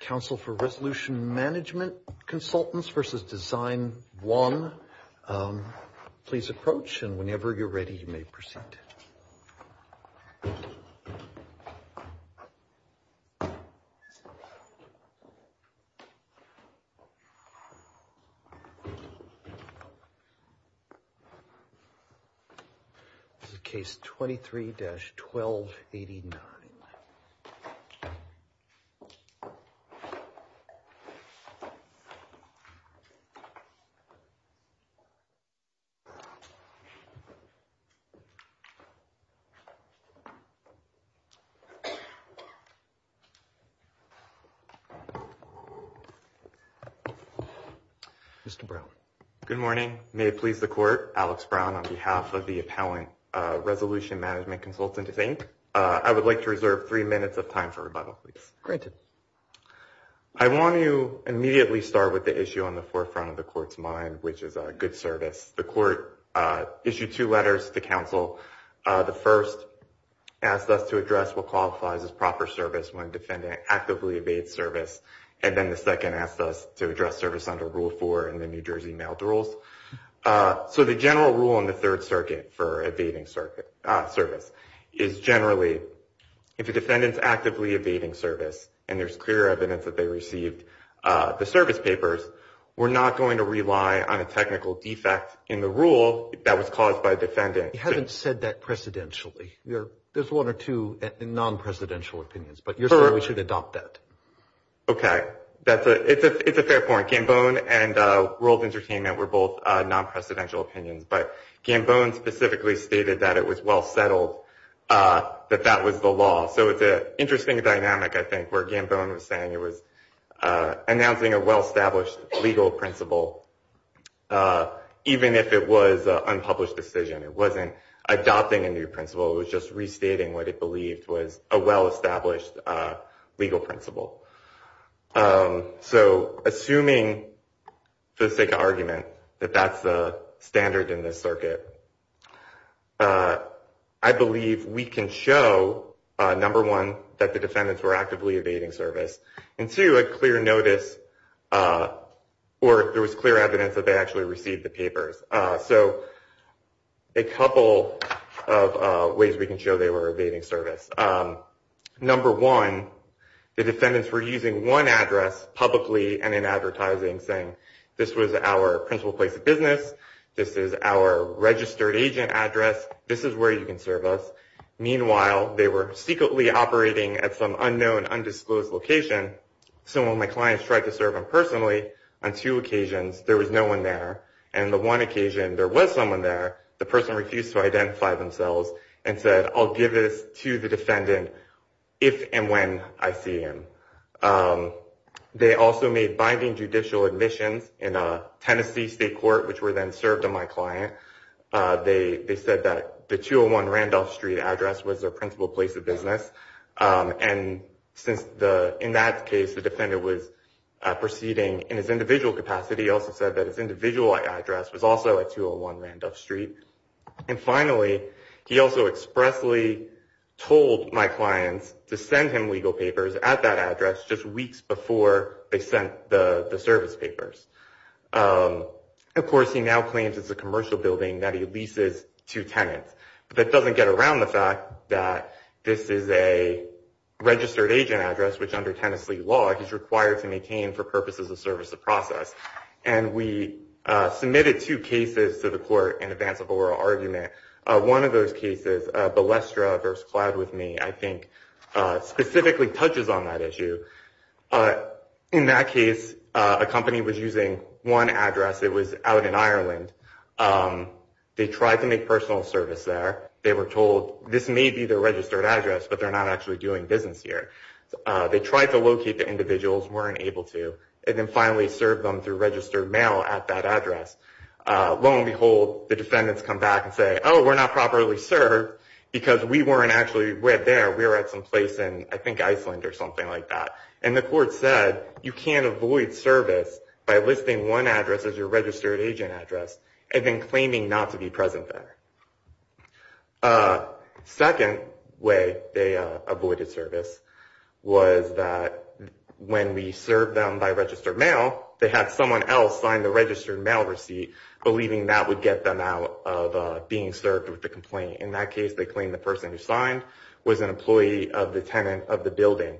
Council for Resolution Management Consultants v. Design One, please approach and whenever you're ready, you may proceed. This is Case 23-1289. Mr. Brown. Good morning. May it please the Court, Alex Brown on behalf of the Appellant Resolution Management Consultant, I would like to reserve three minutes of time for rebuttal, please. Granted. I want to immediately start with the issue on the forefront of the Court's mind, which is good service. The Court issued two letters to counsel. The first asked us to address what qualifies as proper service when defendant actively evades service. And then the second asked us to address service under Rule 4 in the New Jersey Mailed Rules. So the general rule in the Third Circuit for evading service is generally if a defendant is actively evading service and there's clear evidence that they received the service papers, we're not going to rely on a technical defect in the rule that was caused by a defendant. You haven't said that precedentially. There's one or two non-presidential opinions, but you're saying we should adopt that. Okay. It's a fair point. Gambone and World Entertainment were both non-presidential opinions, but Gambone specifically stated that it was well settled that that was the law. So it's an interesting dynamic, I think, where Gambone was saying it was announcing a well-established legal principle, even if it was an unpublished decision. It wasn't adopting a new principle. It was just restating what it believed was a well-established legal principle. So assuming, for the sake of argument, that that's the standard in this circuit, I believe we can show, number one, that the defendants were actively evading service, and two, a clear notice or there was clear evidence that they actually received the papers. So a couple of ways we can show they were evading service. Number one, the defendants were using one address publicly and in advertising, saying this was our principal place of business, this is our registered agent address, this is where you can serve us. Meanwhile, they were secretly operating at some unknown, undisclosed location. So when my clients tried to serve him personally on two occasions, there was no one there. And the one occasion there was someone there, the person refused to identify themselves and said, I'll give this to the defendant if and when I see him. They also made binding judicial admissions in a Tennessee state court, which were then served on my client. They said that the 201 Randolph Street address was their principal place of business. And in that case, the defendant was proceeding in his individual capacity. He also said that his individual address was also at 201 Randolph Street. And finally, he also expressly told my clients to send him legal papers at that address just weeks before they sent the service papers. Of course, he now claims it's a commercial building that he leases to tenants. But that doesn't get around the fact that this is a registered agent address, which under Tennessee law, he's required to maintain for purposes of service of process. And we submitted two cases to the court in advance of oral argument. One of those cases, Balestra v. Cloud With Me, I think, specifically touches on that issue. In that case, a company was using one address. It was out in Ireland. They tried to make personal service there. They were told this may be their registered address, but they're not actually doing business here. They tried to locate the individuals, weren't able to, and then finally served them through registered mail at that address. Lo and behold, the defendants come back and say, oh, we're not properly served because we weren't actually there. We were at some place in, I think, Iceland or something like that. And the court said, you can't avoid service by listing one address as your registered agent address and then claiming not to be present there. Second way they avoided service was that when we served them by registered mail, they had someone else sign the registered mail receipt, believing that would get them out of being served with the complaint. In that case, they claimed the person who signed was an employee of the tenant of the building.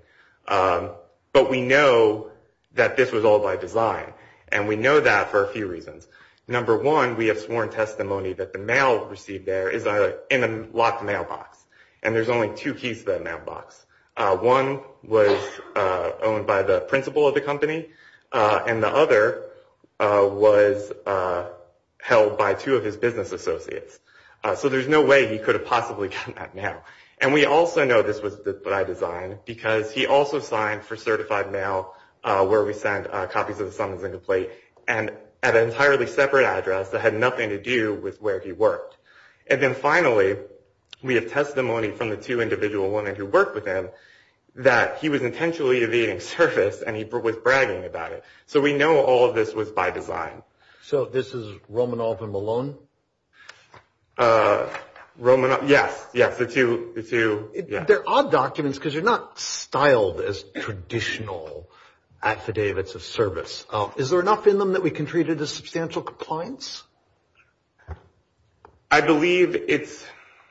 But we know that this was all by design, and we know that for a few reasons. Number one, we have sworn testimony that the mail received there is in a locked mailbox, and there's only two keys to that mailbox. One was owned by the principal of the company, and the other was held by two of his business associates. So there's no way he could have possibly gotten that mail. And we also know this was by design because he also signed for certified mail, where we sent copies of the summons and complaint, and at an entirely separate address that had nothing to do with where he worked. And then finally, we have testimony from the two individual women who worked with him that he was intentionally evading service and he was bragging about it. So we know all of this was by design. So this is Romanoff and Malone? Romanoff, yes, yes, the two. They're odd documents because they're not styled as traditional affidavits of service. Is there enough in them that we can treat it as substantial compliance? I believe it's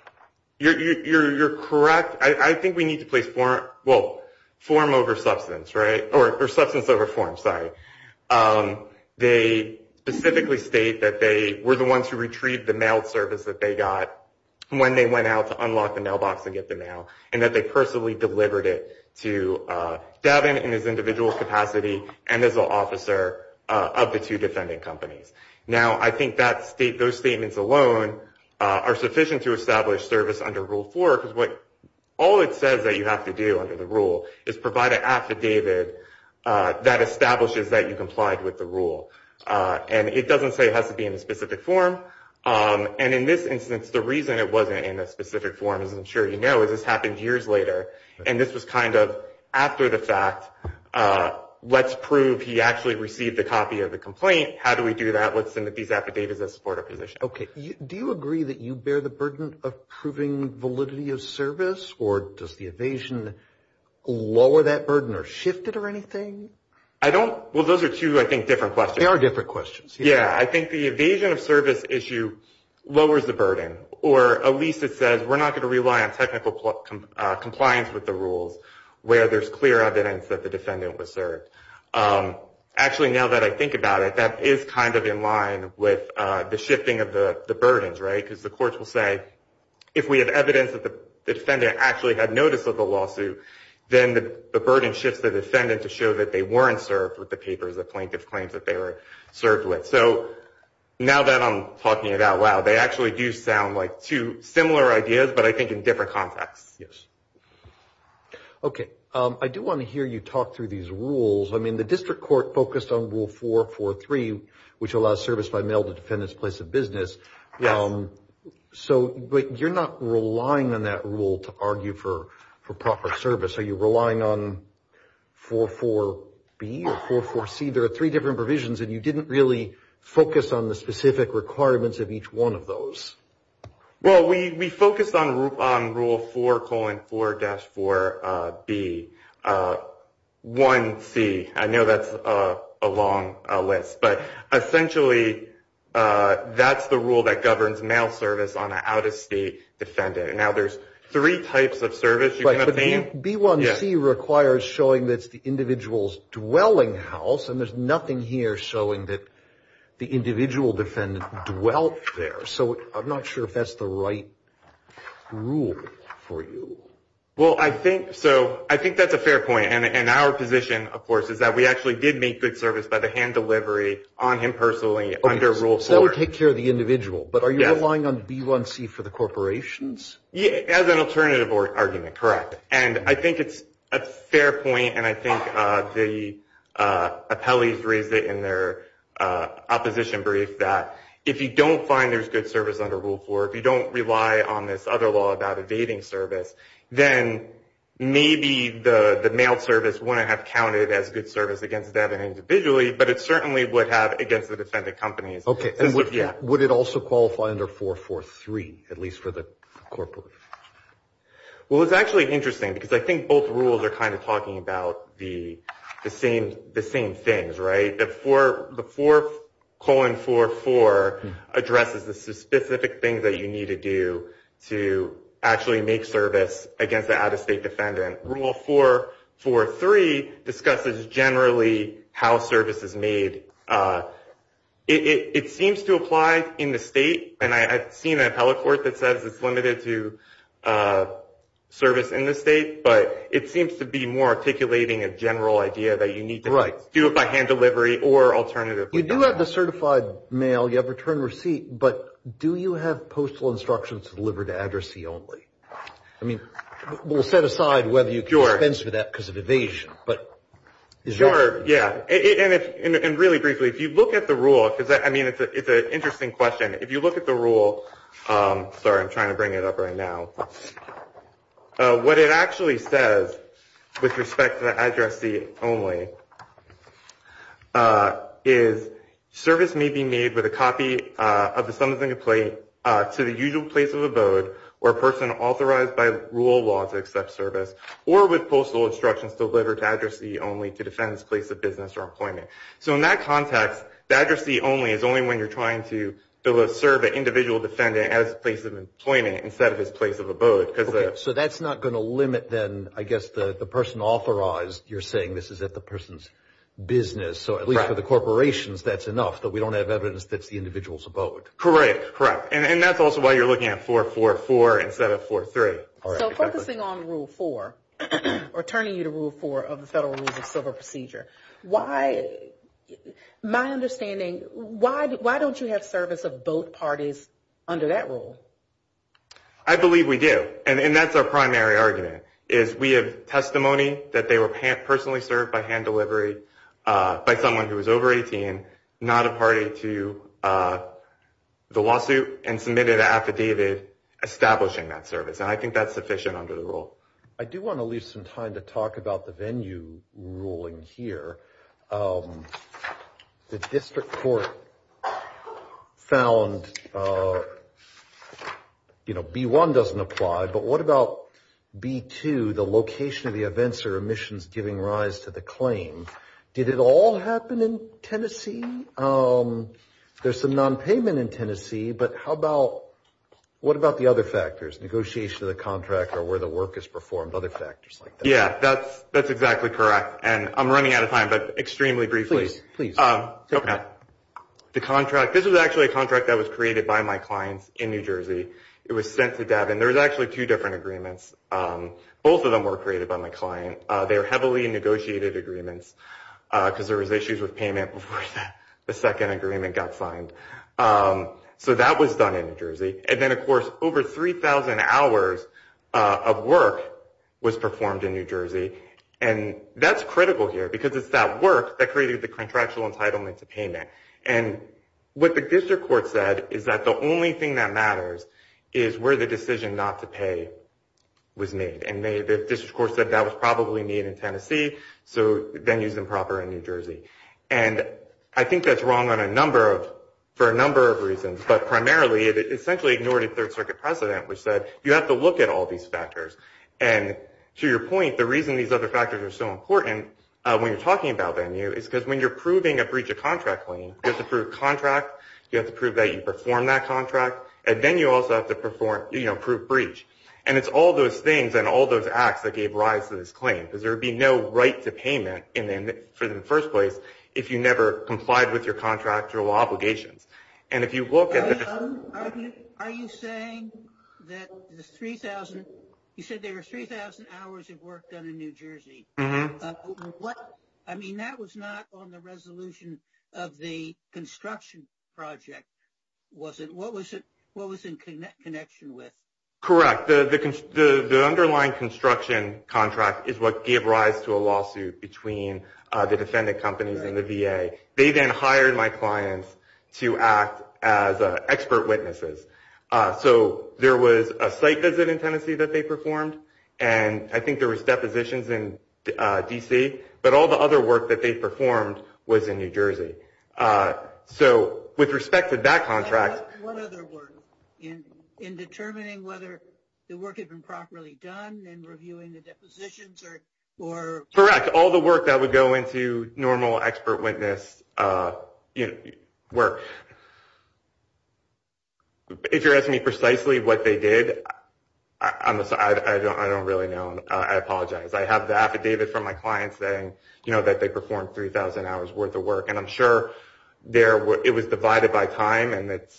– you're correct. I think we need to place form – well, form over substance, right? Or substance over form, sorry. They specifically state that they were the ones who retrieved the mail service that they got when they went out to unlock the mailbox and get the mail, and that they personally delivered it to Devin in his individual capacity and as an officer of the two defending companies. Now, I think those statements alone are sufficient to establish service under Rule 4 because all it says that you have to do under the rule is provide an affidavit that establishes that you complied with the rule. And it doesn't say it has to be in a specific form. And in this instance, the reason it wasn't in a specific form, as I'm sure you know, is this happened years later, and this was kind of after the fact. Let's prove he actually received a copy of the complaint. How do we do that? Let's send these affidavits as support of position. Okay. Do you agree that you bear the burden of proving validity of service, or does the evasion lower that burden or shift it or anything? Well, those are two, I think, different questions. They are different questions. Yeah. I think the evasion of service issue lowers the burden, or at least it says we're not going to rely on technical compliance with the rules where there's clear evidence that the defendant was served. Actually, now that I think about it, that is kind of in line with the shifting of the burdens, right, because the courts will say, if we have evidence that the defendant actually had notice of the lawsuit, then the burden shifts the defendant to show that they weren't served with the papers the plaintiff claims that they were served with. So now that I'm talking it out loud, they actually do sound like two similar ideas, but I think in different contexts. Yes. Okay. I do want to hear you talk through these rules. I mean, the district court focused on Rule 443, which allows service by mail to defendants' place of business. Yes. But you're not relying on that rule to argue for proper service. Are you relying on 44B or 44C? There are three different provisions, and you didn't really focus on the specific requirements of each one of those. Well, we focused on Rule 4, 4-4B. 1C, I know that's a long list, but essentially that's the rule that governs mail service on an out-of-state defendant. Now, there's three types of service you can obtain. But B1C requires showing that it's the individual's dwelling house, and there's nothing here showing that the individual defendant dwelt there. So I'm not sure if that's the right rule for you. Well, I think so. I think that's a fair point. And our position, of course, is that we actually did make good service by the hand delivery on him personally under Rule 4. So that would take care of the individual. But are you relying on B1C for the corporations? As an alternative argument, correct. And I think it's a fair point, and I think the appellees raised it in their opposition brief that if you don't find there's good service under Rule 4, if you don't rely on this other law about evading service, then maybe the mail service wouldn't have counted as good service against that individually, but it certainly would have against the defendant companies. Okay. And would it also qualify under 4.4.3, at least for the corporate? Well, it's actually interesting because I think both rules are kind of talking about the same things, right? The 4.4.4 addresses the specific things that you need to do to actually make service against an out-of-state defendant. Rule 4.4.3 discusses generally how service is made. It seems to apply in the state, and I've seen an appellate court that says it's limited to service in the state, but it seems to be more articulating a general idea that you need to do it by hand delivery or alternatively not. You do have the certified mail. You have return receipt, but do you have postal instructions to deliver to addressee only? I mean, we'll set aside whether you can expense for that because of evasion. Sure, yeah. And really briefly, if you look at the rule, because, I mean, it's an interesting question. If you look at the rule, sorry, I'm trying to bring it up right now. What it actually says with respect to the addressee only is, service may be made with a copy of the summons and complaint to the usual place of abode or a person authorized by rule of law to accept service or with postal instructions delivered to addressee only to defend his place of business or employment. So in that context, the addressee only is only when you're trying to serve an individual defendant at his place of employment instead of his place of abode. Okay, so that's not going to limit then, I guess, the person authorized. You're saying this is at the person's business. So at least for the corporations, that's enough. But we don't have evidence that's the individual's abode. Correct, correct. And that's also why you're looking at 444 instead of 433. So focusing on Rule 4, or turning you to Rule 4 of the Federal Rules of Civil Procedure, my understanding, why don't you have service of both parties under that rule? I believe we do. And that's our primary argument is we have testimony that they were personally served by hand delivery by someone who was over 18, not a party to the lawsuit, and submitted an affidavit establishing that service. And I think that's sufficient under the rule. I do want to leave some time to talk about the venue ruling here. The district court found, you know, B-1 doesn't apply, but what about B-2, the location of the events or omissions giving rise to the claim? Did it all happen in Tennessee? There's some nonpayment in Tennessee, but how about, what about the other factors, negotiation of the contract or where the work is performed, other factors like that? Yeah, that's exactly correct. And I'm running out of time, but extremely briefly. Please, please. The contract, this was actually a contract that was created by my clients in New Jersey. It was sent to Devon. There was actually two different agreements. Both of them were created by my client. They were heavily negotiated agreements because there was issues with payment before the second agreement got signed. So that was done in New Jersey. And then, of course, over 3,000 hours of work was performed in New Jersey. And that's critical here because it's that work that created the contractual entitlement to payment. And what the district court said is that the only thing that matters is where the decision not to pay was made. And the district court said that was probably made in Tennessee, so venues improper in New Jersey. And I think that's wrong on a number of, for a number of reasons. But primarily, it essentially ignored a Third Circuit precedent, which said you have to look at all these factors. And to your point, the reason these other factors are so important when you're talking about venue is because when you're proving a breach of contract claim, you have to prove contract, you have to prove that you performed that contract, and then you also have to prove breach. And it's all those things and all those acts that gave rise to this claim because there would be no right to payment for the first place if you never complied with your contractual obligations. And if you look at the – Are you saying that the 3,000 – you said there were 3,000 hours of work done in New Jersey. Mm-hmm. What – I mean, that was not on the resolution of the construction project, was it? What was it – what was in connection with? Correct. The underlying construction contract is what gave rise to a lawsuit between the defendant companies and the VA. They then hired my clients to act as expert witnesses. So there was a site visit in Tennessee that they performed, and I think there was depositions in D.C., but all the other work that they performed was in New Jersey. So with respect to that contract – What other work? In determining whether the work had been properly done and reviewing the depositions or – If you're asking me precisely what they did, I don't really know. I apologize. I have the affidavit from my clients saying that they performed 3,000 hours worth of work, and I'm sure it was divided by time and that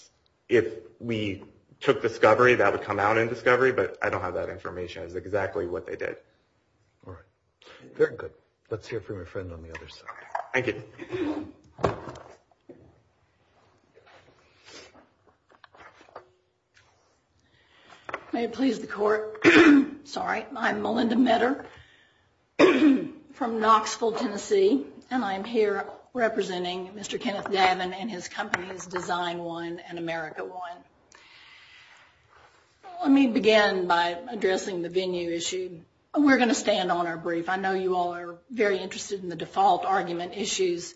if we took discovery, that would come out in discovery, but I don't have that information as to exactly what they did. All right. Very good. Let's hear from your friend on the other side. Thank you. May it please the Court, I'm Melinda Metter from Knoxville, Tennessee, and I'm here representing Mr. Kenneth Davin and his companies Design One and America One. Let me begin by addressing the venue issue. We're going to stand on our brief. I know you all are very interested in the default argument issues,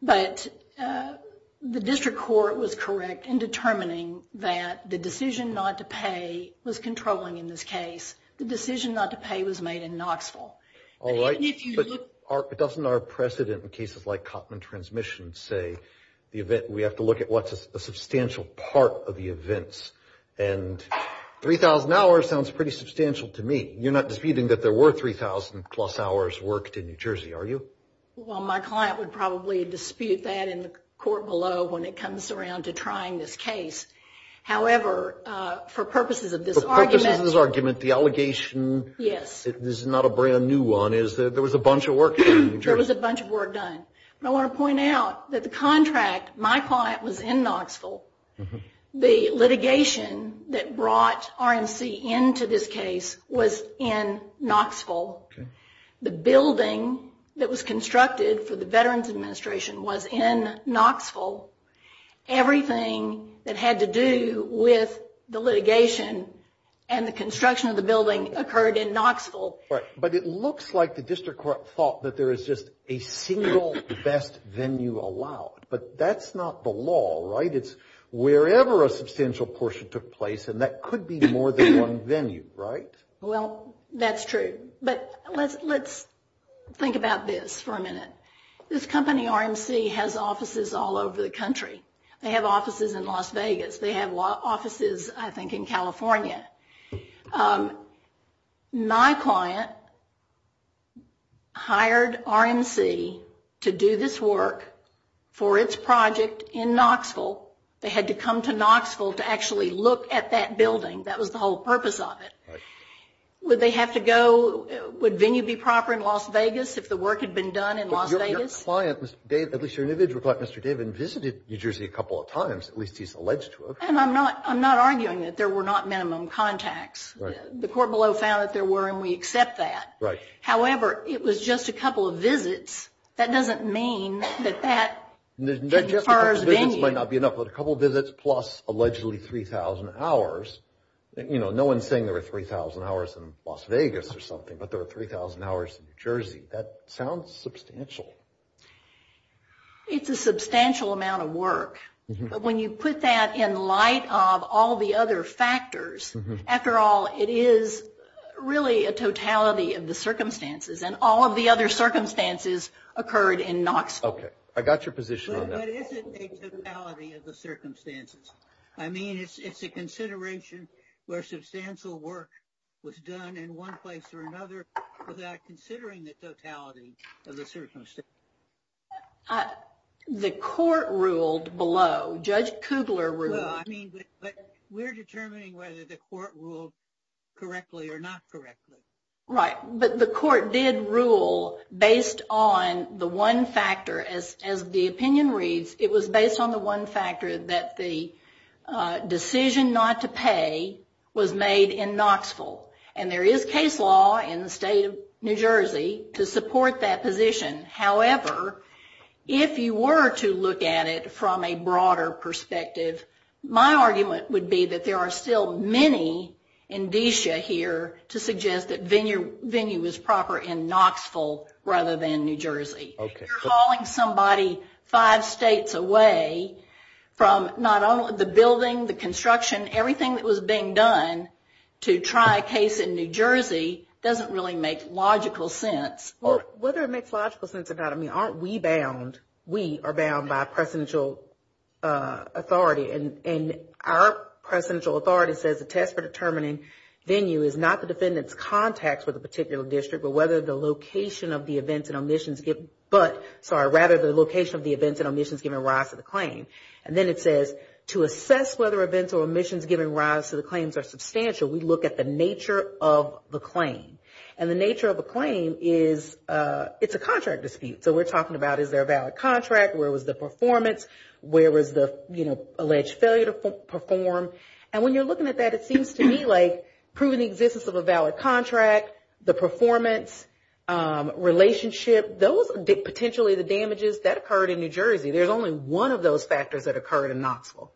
but the district court was correct in determining that the decision not to pay was controlling in this case. The decision not to pay was made in Knoxville. All right. But doesn't our precedent in cases like Kottman Transmissions say we have to look at what's a substantial part of the events, and 3,000 hours sounds pretty substantial to me. You're not disputing that there were 3,000 plus hours worked in New Jersey, are you? Well, my client would probably dispute that in the court below when it comes around to trying this case. However, for purposes of this argument. For purposes of this argument, the allegation is not a brand new one. There was a bunch of work done in New Jersey. There was a bunch of work done. I want to point out that the contract, my client was in Knoxville. The litigation that brought RMC into this case was in Knoxville. The building that was constructed for the Veterans Administration was in Knoxville. Everything that had to do with the litigation and the construction of the building occurred in Knoxville. Right. But it looks like the district court thought that there is just a single best venue allowed. But that's not the law, right? It's wherever a substantial portion took place, and that could be more than one venue, right? Well, that's true. But let's think about this for a minute. This company, RMC, has offices all over the country. They have offices in Las Vegas. They have offices, I think, in California. My client hired RMC to do this work for its project in Knoxville. They had to come to Knoxville to actually look at that building. That was the whole purpose of it. Right. Would they have to go? Would venue be proper in Las Vegas if the work had been done in Las Vegas? But your client, at least your individual client, Mr. David, visited New Jersey a couple of times. At least he's alleged to have. And I'm not arguing that there were not minimum contacts. Right. The court below found that there were, and we accept that. Right. However, it was just a couple of visits. That doesn't mean that that is as far as venue. Just a couple of visits might not be enough, but a couple of visits plus allegedly 3,000 hours. You know, no one's saying there were 3,000 hours in Las Vegas or something, but there were 3,000 hours in New Jersey. That sounds substantial. It's a substantial amount of work. But when you put that in light of all the other factors, after all, it is really a totality of the circumstances. And all of the other circumstances occurred in Knoxville. Okay. I got your position on that. But is it a totality of the circumstances? I mean, it's a consideration where substantial work was done in one place or another without considering the totality of the circumstances. The court ruled below. Judge Kugler ruled. Well, I mean, but we're determining whether the court ruled correctly or not correctly. Right. But the court did rule based on the one factor. As the opinion reads, it was based on the one factor that the decision not to pay was made in Knoxville. And there is case law in the state of New Jersey to support that position. However, if you were to look at it from a broader perspective, my argument would be that there are still many indicia here to suggest that venue was proper in Knoxville rather than New Jersey. Okay. Calling somebody five states away from not only the building, the construction, everything that was being done to try a case in New Jersey doesn't really make logical sense. Well, whether it makes logical sense or not, I mean, aren't we bound? We are bound by presidential authority. And our presidential authority says the test for determining venue is not the defendant's contacts with a particular district, but whether the location of the events and omissions given rise to the claim. And then it says to assess whether events or omissions given rise to the claims are substantial, we look at the nature of the claim. And the nature of a claim is it's a contract dispute. So we're talking about is there a valid contract, where was the performance, where was the, you know, alleged failure to perform. And when you're looking at that, it seems to me like proven existence of a valid contract, the performance, relationship, those are potentially the damages that occurred in New Jersey. There's only one of those factors that occurred in Knoxville.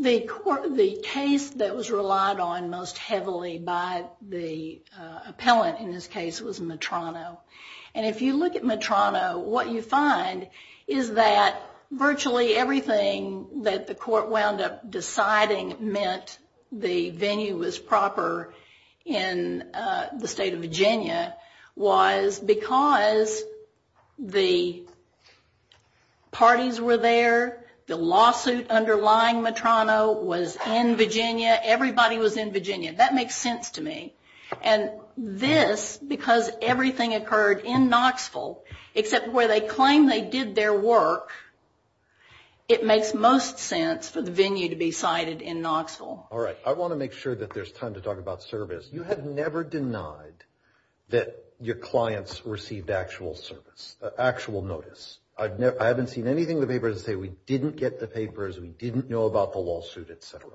The case that was relied on most heavily by the appellant in this case was Metrano. And if you look at Metrano, what you find is that virtually everything that the court wound up deciding meant the venue was proper in the state of Virginia was because the parties were there, the lawsuit underlying Metrano was in Virginia, everybody was in Virginia. That makes sense to me. And this, because everything occurred in Knoxville, except where they claim they did their work, it makes most sense for the venue to be cited in Knoxville. All right. I want to make sure that there's time to talk about service. You have never denied that your clients received actual service, actual notice. I haven't seen anything in the papers that say we didn't get the papers, we didn't know about the lawsuit, et cetera.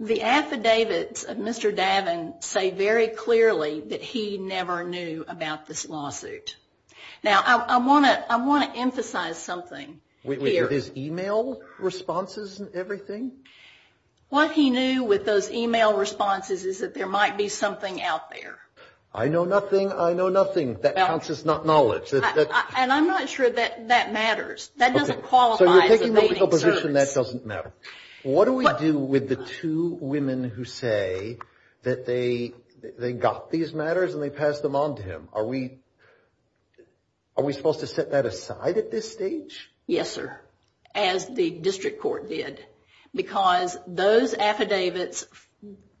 The affidavits of Mr. Davin say very clearly that he never knew about this lawsuit. Now, I want to emphasize something here. Was it his email responses and everything? What he knew with those email responses is that there might be something out there. I know nothing, I know nothing. That counts as not knowledge. And I'm not sure that that matters. That doesn't qualify as evading service. So you're taking the position that doesn't matter. What do we do with the two women who say that they got these matters and they passed them on to him? Are we supposed to set that aside at this stage? Yes, sir. As the district court did. Because those affidavits,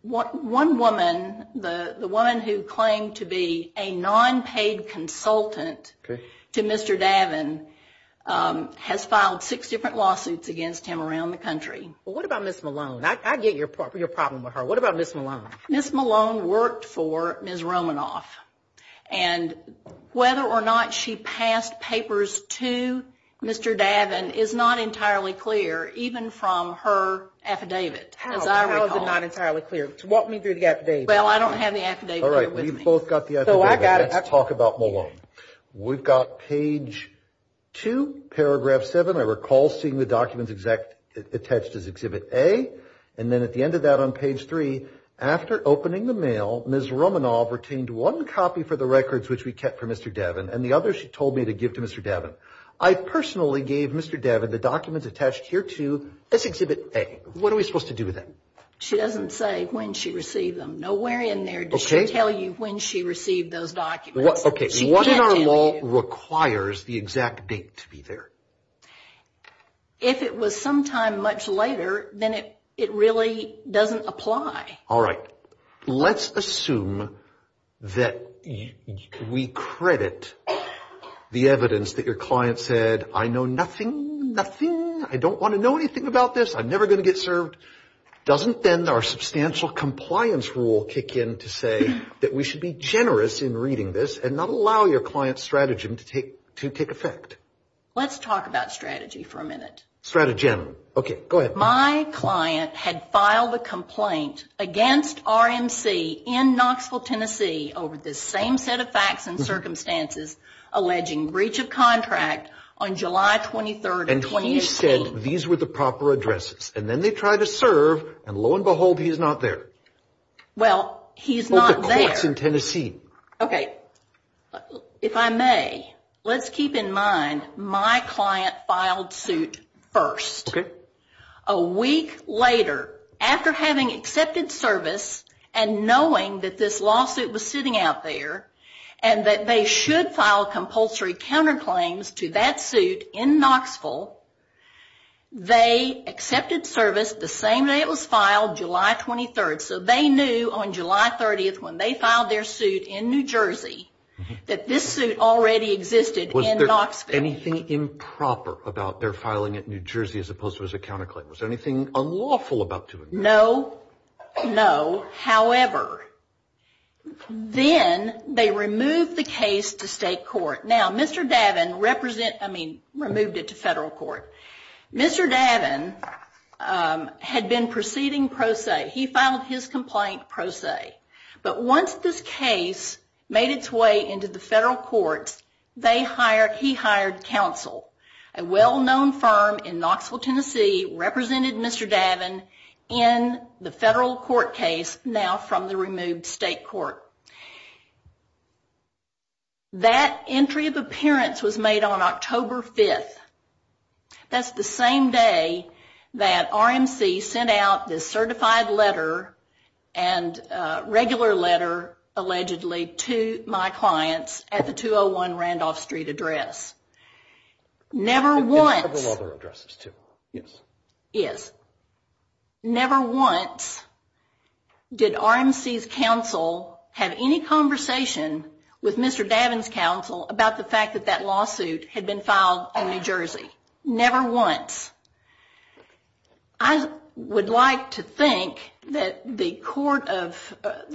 one woman, the woman who claimed to be a non-paid consultant to Mr. Davin, has filed six different lawsuits against him around the country. What about Ms. Malone? I get your problem with her. What about Ms. Malone? Ms. Malone worked for Ms. Romanoff. And whether or not she passed papers to Mr. Davin is not entirely clear, even from her affidavit, as I recall. How is it not entirely clear? Walk me through the affidavit. Well, I don't have the affidavit here with me. We've both got the affidavit. Let's talk about Malone. We've got page two, paragraph seven. I recall seeing the documents attached as exhibit A. And then at the end of that on page three, after opening the mail, Ms. Romanoff retained one copy for the records, which we kept for Mr. Davin, and the other she told me to give to Mr. Davin. I personally gave Mr. Davin the documents attached here to this exhibit A. What are we supposed to do with that? She doesn't say when she received them. Nowhere in there does she tell you when she received those documents. Okay. What in our law requires the exact date to be there? If it was some time much later, then it really doesn't apply. All right. Let's assume that we credit the evidence that your client said, I know nothing, nothing, I don't want to know anything about this, I'm never going to get served. Doesn't then our substantial compliance rule kick in to say that we should be generous in reading this and not allow your client's strategy to take effect? Let's talk about strategy for a minute. Strategy. Okay. Go ahead. My client had filed a complaint against RMC in Knoxville, Tennessee, over this same set of facts and circumstances, alleging breach of contract on July 23rd of 2016. And he said these were the proper addresses. And then they tried to serve, and lo and behold, he's not there. Well, he's not there. Both the courts in Tennessee. Okay. If I may, let's keep in mind my client filed suit first. Okay. A week later, after having accepted service and knowing that this lawsuit was sitting out there and that they should file compulsory counterclaims to that suit in Knoxville, they accepted service the same day it was filed, July 23rd. So they knew on July 30th, when they filed their suit in New Jersey, that this suit already existed in Knoxville. Was there anything improper about their filing it in New Jersey as opposed to as a counterclaim? Was there anything unlawful about doing that? No. No. However, then they removed the case to state court. Now, Mr. Davin, I mean, removed it to federal court. Mr. Davin had been proceeding pro se. He filed his complaint pro se. But once this case made its way into the federal courts, he hired counsel. A well-known firm in Knoxville, Tennessee, represented Mr. Davin in the federal court case, now from the removed state court. That entry of appearance was made on October 5th. That's the same day that RMC sent out this certified letter and regular letter, allegedly, to my clients at the 201 Randolph Street address. Never once... And several other addresses too. Yes. Yes. Never once did RMC's counsel have any conversation with Mr. Davin's counsel about the fact that that lawsuit had been filed in New Jersey. Never once. I would like to think that the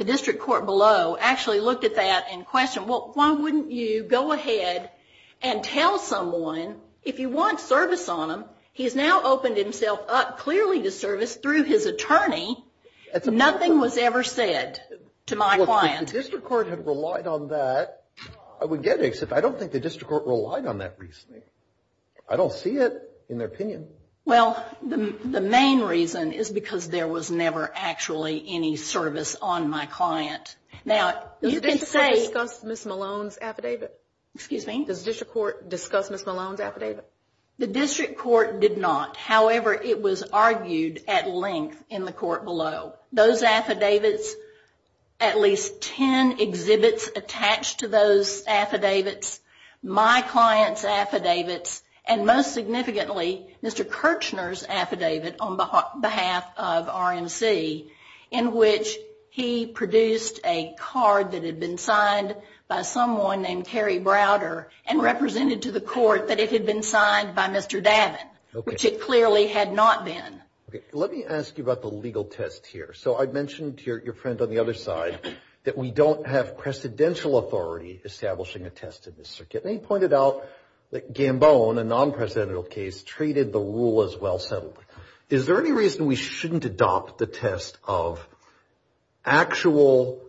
district court below actually looked at that and questioned, well, why wouldn't you go ahead and tell someone if you want service on them? He has now opened himself up clearly to service through his attorney. Nothing was ever said to my client. If the district court had relied on that, I would get it, except I don't think the district court relied on that recently. I don't see it in their opinion. Well, the main reason is because there was never actually any service on my client. Now, you can say... Does the district court discuss Ms. Malone's affidavit? Excuse me? Does the district court discuss Ms. Malone's affidavit? The district court did not. However, it was argued at length in the court below. Those affidavits, at least ten exhibits attached to those affidavits, my client's affidavits, and most significantly, Mr. Kirchner's affidavit on behalf of RMC, in which he produced a card that had been signed by someone named Carrie Browder and represented to the court that it had been signed by Mr. Davin, which it clearly had not been. Okay, let me ask you about the legal test here. So I mentioned to your friend on the other side that we don't have precedential authority establishing a test in this circuit, and he pointed out that Gambone, a non-presidential case, treated the rule as well settled. Is there any reason we shouldn't adopt the test of actual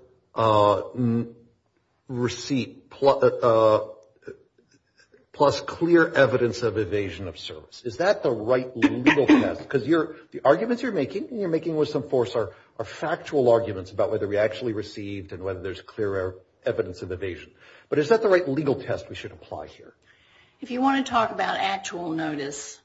receipt plus clear evidence of evasion of service? Is that the right legal test? Because the arguments you're making and you're making with some force are factual arguments about whether we actually received and whether there's clear evidence of evasion. But is that the right legal test we should apply here? If you want to talk about actual notice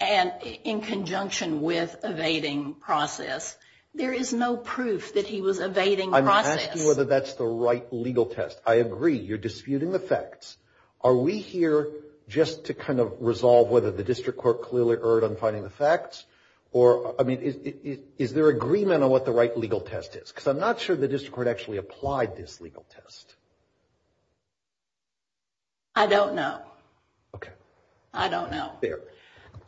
in conjunction with evading process, there is no proof that he was evading process. I'm asking whether that's the right legal test. I agree. You're disputing the facts. Are we here just to kind of resolve whether the district court clearly erred on finding the facts? Or, I mean, is there agreement on what the right legal test is? Because I'm not sure the district court actually applied this legal test. I don't know. Okay. I don't know. Fair.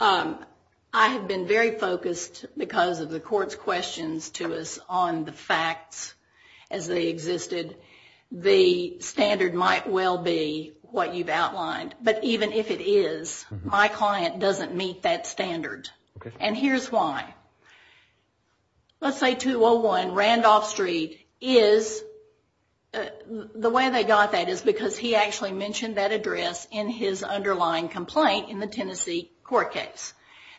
I have been very focused because of the court's questions to us on the facts as they existed. The standard might well be what you've outlined. But even if it is, my client doesn't meet that standard. Okay. And here's why. Let's say 201 Randolph Street is the way they got that is because he actually mentioned that address in his underlying complaint in the Tennessee court case.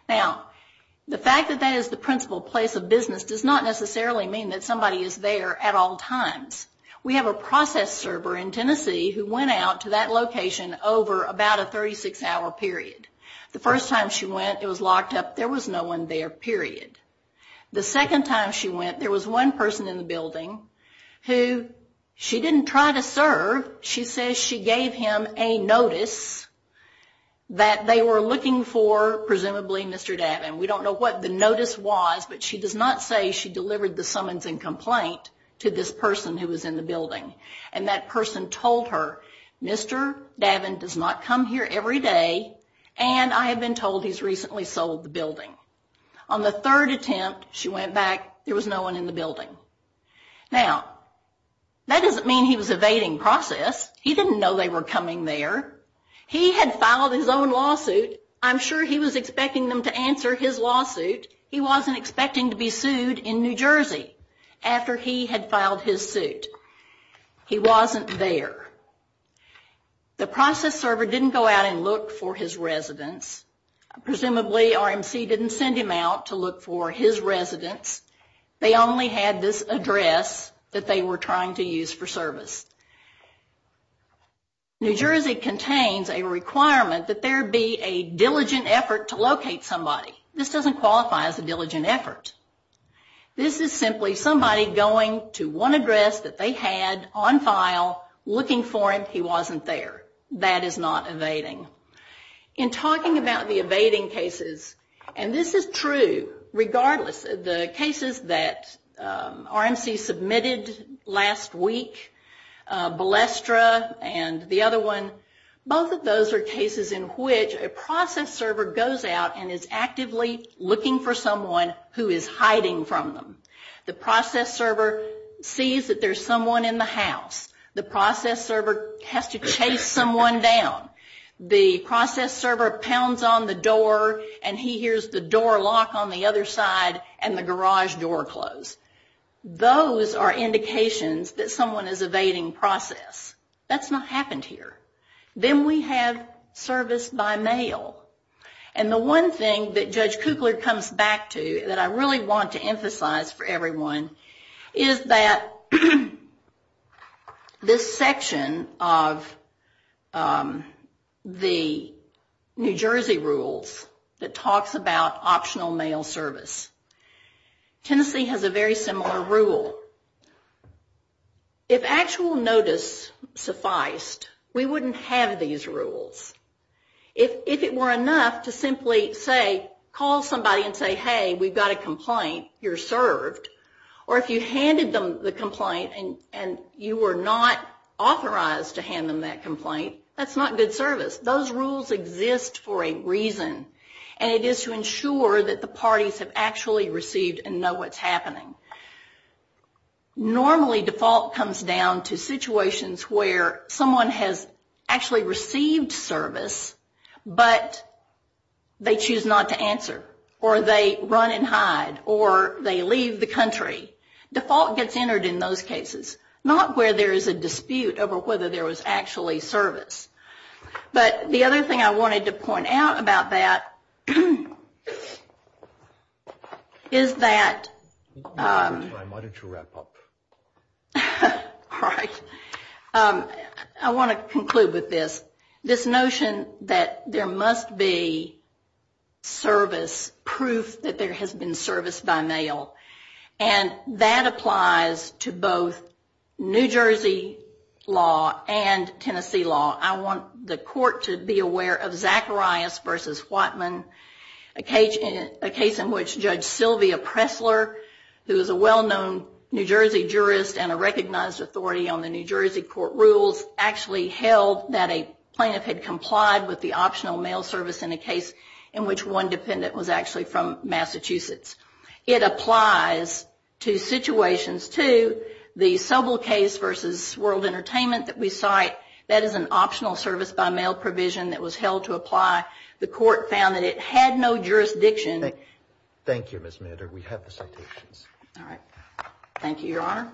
Now, the fact that that is the principal place of business does not necessarily mean that somebody is there at all times. We have a process server in Tennessee who went out to that location over about a 36-hour period. The first time she went, it was locked up. There was no one there, period. The second time she went, there was one person in the building who she didn't try to serve. She says she gave him a notice that they were looking for presumably Mr. Davin. We don't know what the notice was, but she does not say she delivered the summons and complaint to this person who was in the building. And that person told her, Mr. Davin does not come here every day, and I have been told he's recently sold the building. On the third attempt, she went back. There was no one in the building. Now, that doesn't mean he was evading process. He didn't know they were coming there. He had filed his own lawsuit. I'm sure he was expecting them to answer his lawsuit. He wasn't expecting to be sued in New Jersey after he had filed his suit. He wasn't there. The process server didn't go out and look for his residence. Presumably, RMC didn't send him out to look for his residence. They only had this address that they were trying to use for service. New Jersey contains a requirement that there be a diligent effort to locate somebody. This doesn't qualify as a diligent effort. This is simply somebody going to one address that they had on file looking for him. He wasn't there. That is not evading. In talking about the evading cases, and this is true regardless of the cases that RMC submitted last week, Balestra and the other one, both of those are cases in which a process server goes out and is actively looking for someone who is hiding from them. The process server sees that there's someone in the house. The process server has to chase someone down. The process server pounds on the door, and he hears the door lock on the other side, and the garage door close. Those are indications that someone is evading process. That's not happened here. Then we have service by mail. The one thing that Judge Kugler comes back to that I really want to emphasize for everyone is that this section of the New Jersey rules that talks about optional mail service. Tennessee has a very similar rule. If actual notice sufficed, we wouldn't have these rules. If it were enough to simply call somebody and say, hey, we've got a complaint, you're served, or if you handed them the complaint and you were not authorized to hand them that complaint, that's not good service. Those rules exist for a reason, and it is to ensure that the parties have actually received and know what's happening. Normally default comes down to situations where someone has actually received service, but they choose not to answer, or they run and hide, or they leave the country. Default gets entered in those cases, not where there is a dispute over whether there was actually service. But the other thing I wanted to point out about that is that... Why don't you wrap up? All right. I want to conclude with this. This notion that there must be service, proof that there has been service by mail, and that applies to both New Jersey law and Tennessee law. I want the court to be aware of Zacharias v. Whatman, a case in which Judge Sylvia Pressler, who is a well-known New Jersey jurist and a recognized authority on the New Jersey court rules, actually held that a plaintiff had complied with the optional mail service in a case in which one dependent was actually from Massachusetts. It applies to situations, too. The Sobel case versus World Entertainment that we cite, that is an optional service by mail provision that was held to apply. The court found that it had no jurisdiction. Thank you, Ms. Mander. We have the citations. All right. Thank you, Your Honor.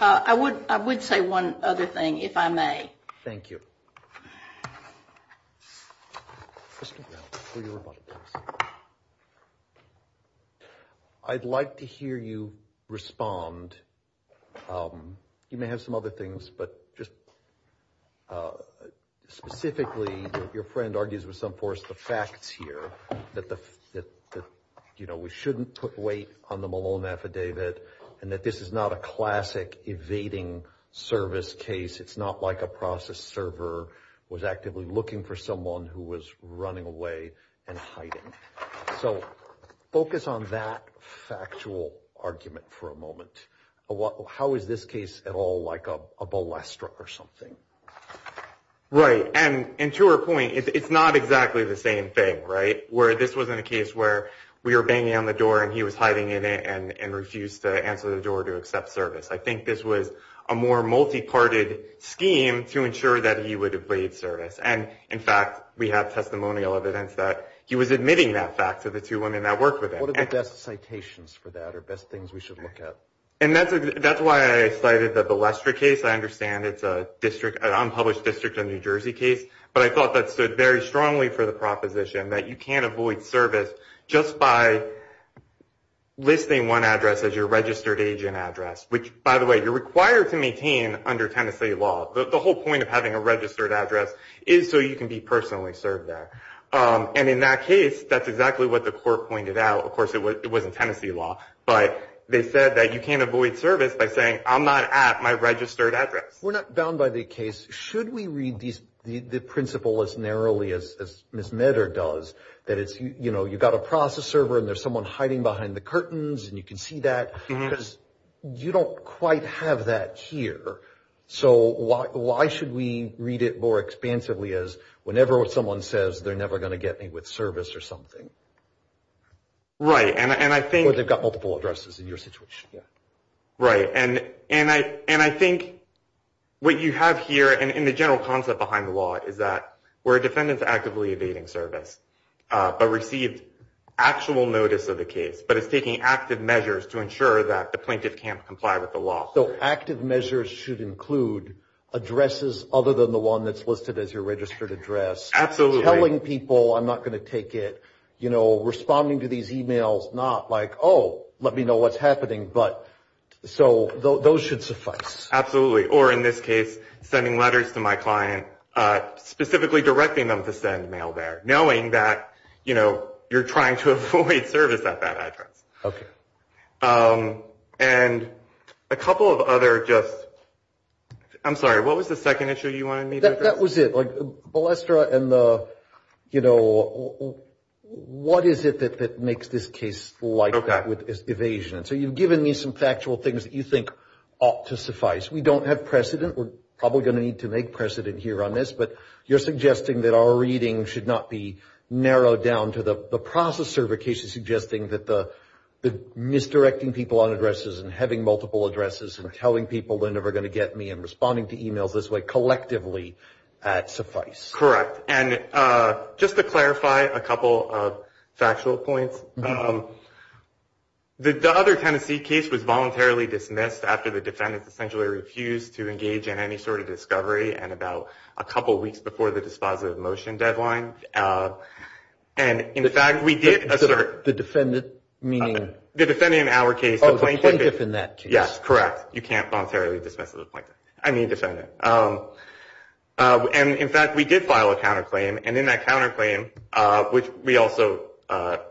I would say one other thing, if I may. Thank you. Mr. Brown, for your rebuttal, please. I'd like to hear you respond. You may have some other things, but just specifically, your friend argues with some force the facts here, that we shouldn't put weight on the Malone affidavit and that this is not a classic evading service case. It's not like a process server was actively looking for someone who was running away and hiding. So focus on that factual argument for a moment. How is this case at all like a balestra or something? Right. And to her point, it's not exactly the same thing, right, where this wasn't a case where we were banging on the door and he was hiding in it and refused to answer the door to accept service. I think this was a more multi-parted scheme to ensure that he would evade service. And, in fact, we have testimonial evidence that he was admitting that fact to the two women that worked with him. What are the best citations for that or best things we should look at? And that's why I cited the balestra case. I understand it's an unpublished district of New Jersey case, but I thought that stood very strongly for the proposition that you can't avoid service just by listing one address as your registered agent address, which, by the way, you're required to maintain under Tennessee law. The whole point of having a registered address is so you can be personally served there. And in that case, that's exactly what the court pointed out. Of course, it wasn't Tennessee law, but they said that you can't avoid service by saying, I'm not at my registered address. We're not bound by the case. Should we read the principle as narrowly as Ms. Medder does, that it's, you know, you've got a process server and there's someone hiding behind the curtains and you can see that? Because you don't quite have that here. So why should we read it more expansively as whenever someone says they're never going to get me with service or something? Right. Or they've got multiple addresses in your situation. Right. And I think what you have here in the general concept behind the law is that where a defendant's actively evading service but received actual notice of the case but is taking active measures to ensure that the plaintiff can't comply with the law. So active measures should include addresses other than the one that's listed as your registered address. Absolutely. Telling people I'm not going to take it, you know, responding to these e-mails not like, oh, let me know what's happening. But so those should suffice. Absolutely. Or in this case, sending letters to my client, specifically directing them to send mail there, knowing that, you know, you're trying to avoid service at that address. Okay. And a couple of other just – I'm sorry, what was the second issue you wanted me to address? That was it. Like, Balestra and the, you know, what is it that makes this case like that with evasion? So you've given me some factual things that you think ought to suffice. We don't have precedent. We're probably going to need to make precedent here on this. But you're suggesting that our reading should not be narrowed down to the process certification suggesting that the misdirecting people on addresses and having multiple addresses and telling people they're never going to get me and responding to e-mails this way collectively suffice. Correct. And just to clarify a couple of factual points, the other Tennessee case was voluntarily dismissed after the defendant essentially refused to engage in any sort of discovery and about a couple weeks before the dispositive motion deadline. And, in fact, we did assert. The defendant meaning? The defendant in our case. Oh, the plaintiff in that case. Yes, correct. You can't voluntarily dismiss the plaintiff. I mean defendant. And, in fact, we did file a counterclaim. And in that counterclaim, which we also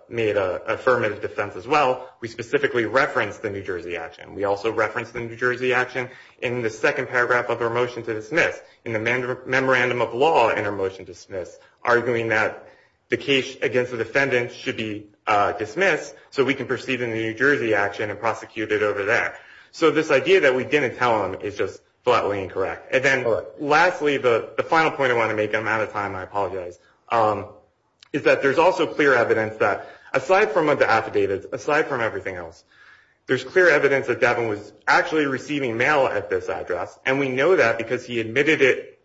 made an affirmative defense as well, we specifically referenced the New Jersey action. We also referenced the New Jersey action in the second paragraph of our motion to dismiss, in the memorandum of law in our motion to dismiss, arguing that the case against the defendant should be dismissed so we can proceed in the New Jersey action and prosecute it over there. So this idea that we didn't tell them is just flatly incorrect. And then lastly, the final point I want to make, and I'm out of time and I apologize, is that there's also clear evidence that aside from the affidavits, aside from everything else, there's clear evidence that Davin was actually receiving mail at this address, and we know that because he admitted it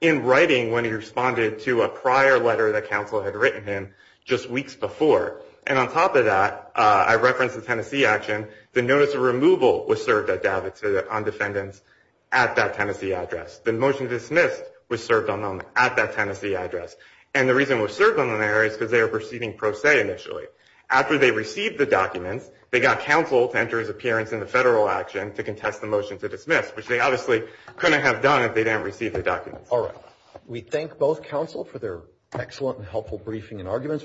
in writing when he responded to a prior letter that counsel had written him just weeks before. And on top of that, I referenced the Tennessee action. The notice of removal was served on defendants at that Tennessee address. The motion to dismiss was served on them at that Tennessee address. And the reason it was served on them there is because they were proceeding pro se initially. After they received the documents, they got counsel to enter his appearance in the federal action to contest the motion to dismiss, which they obviously couldn't have done if they didn't receive the documents. All right. We thank both counsel for their excellent and helpful briefing and arguments.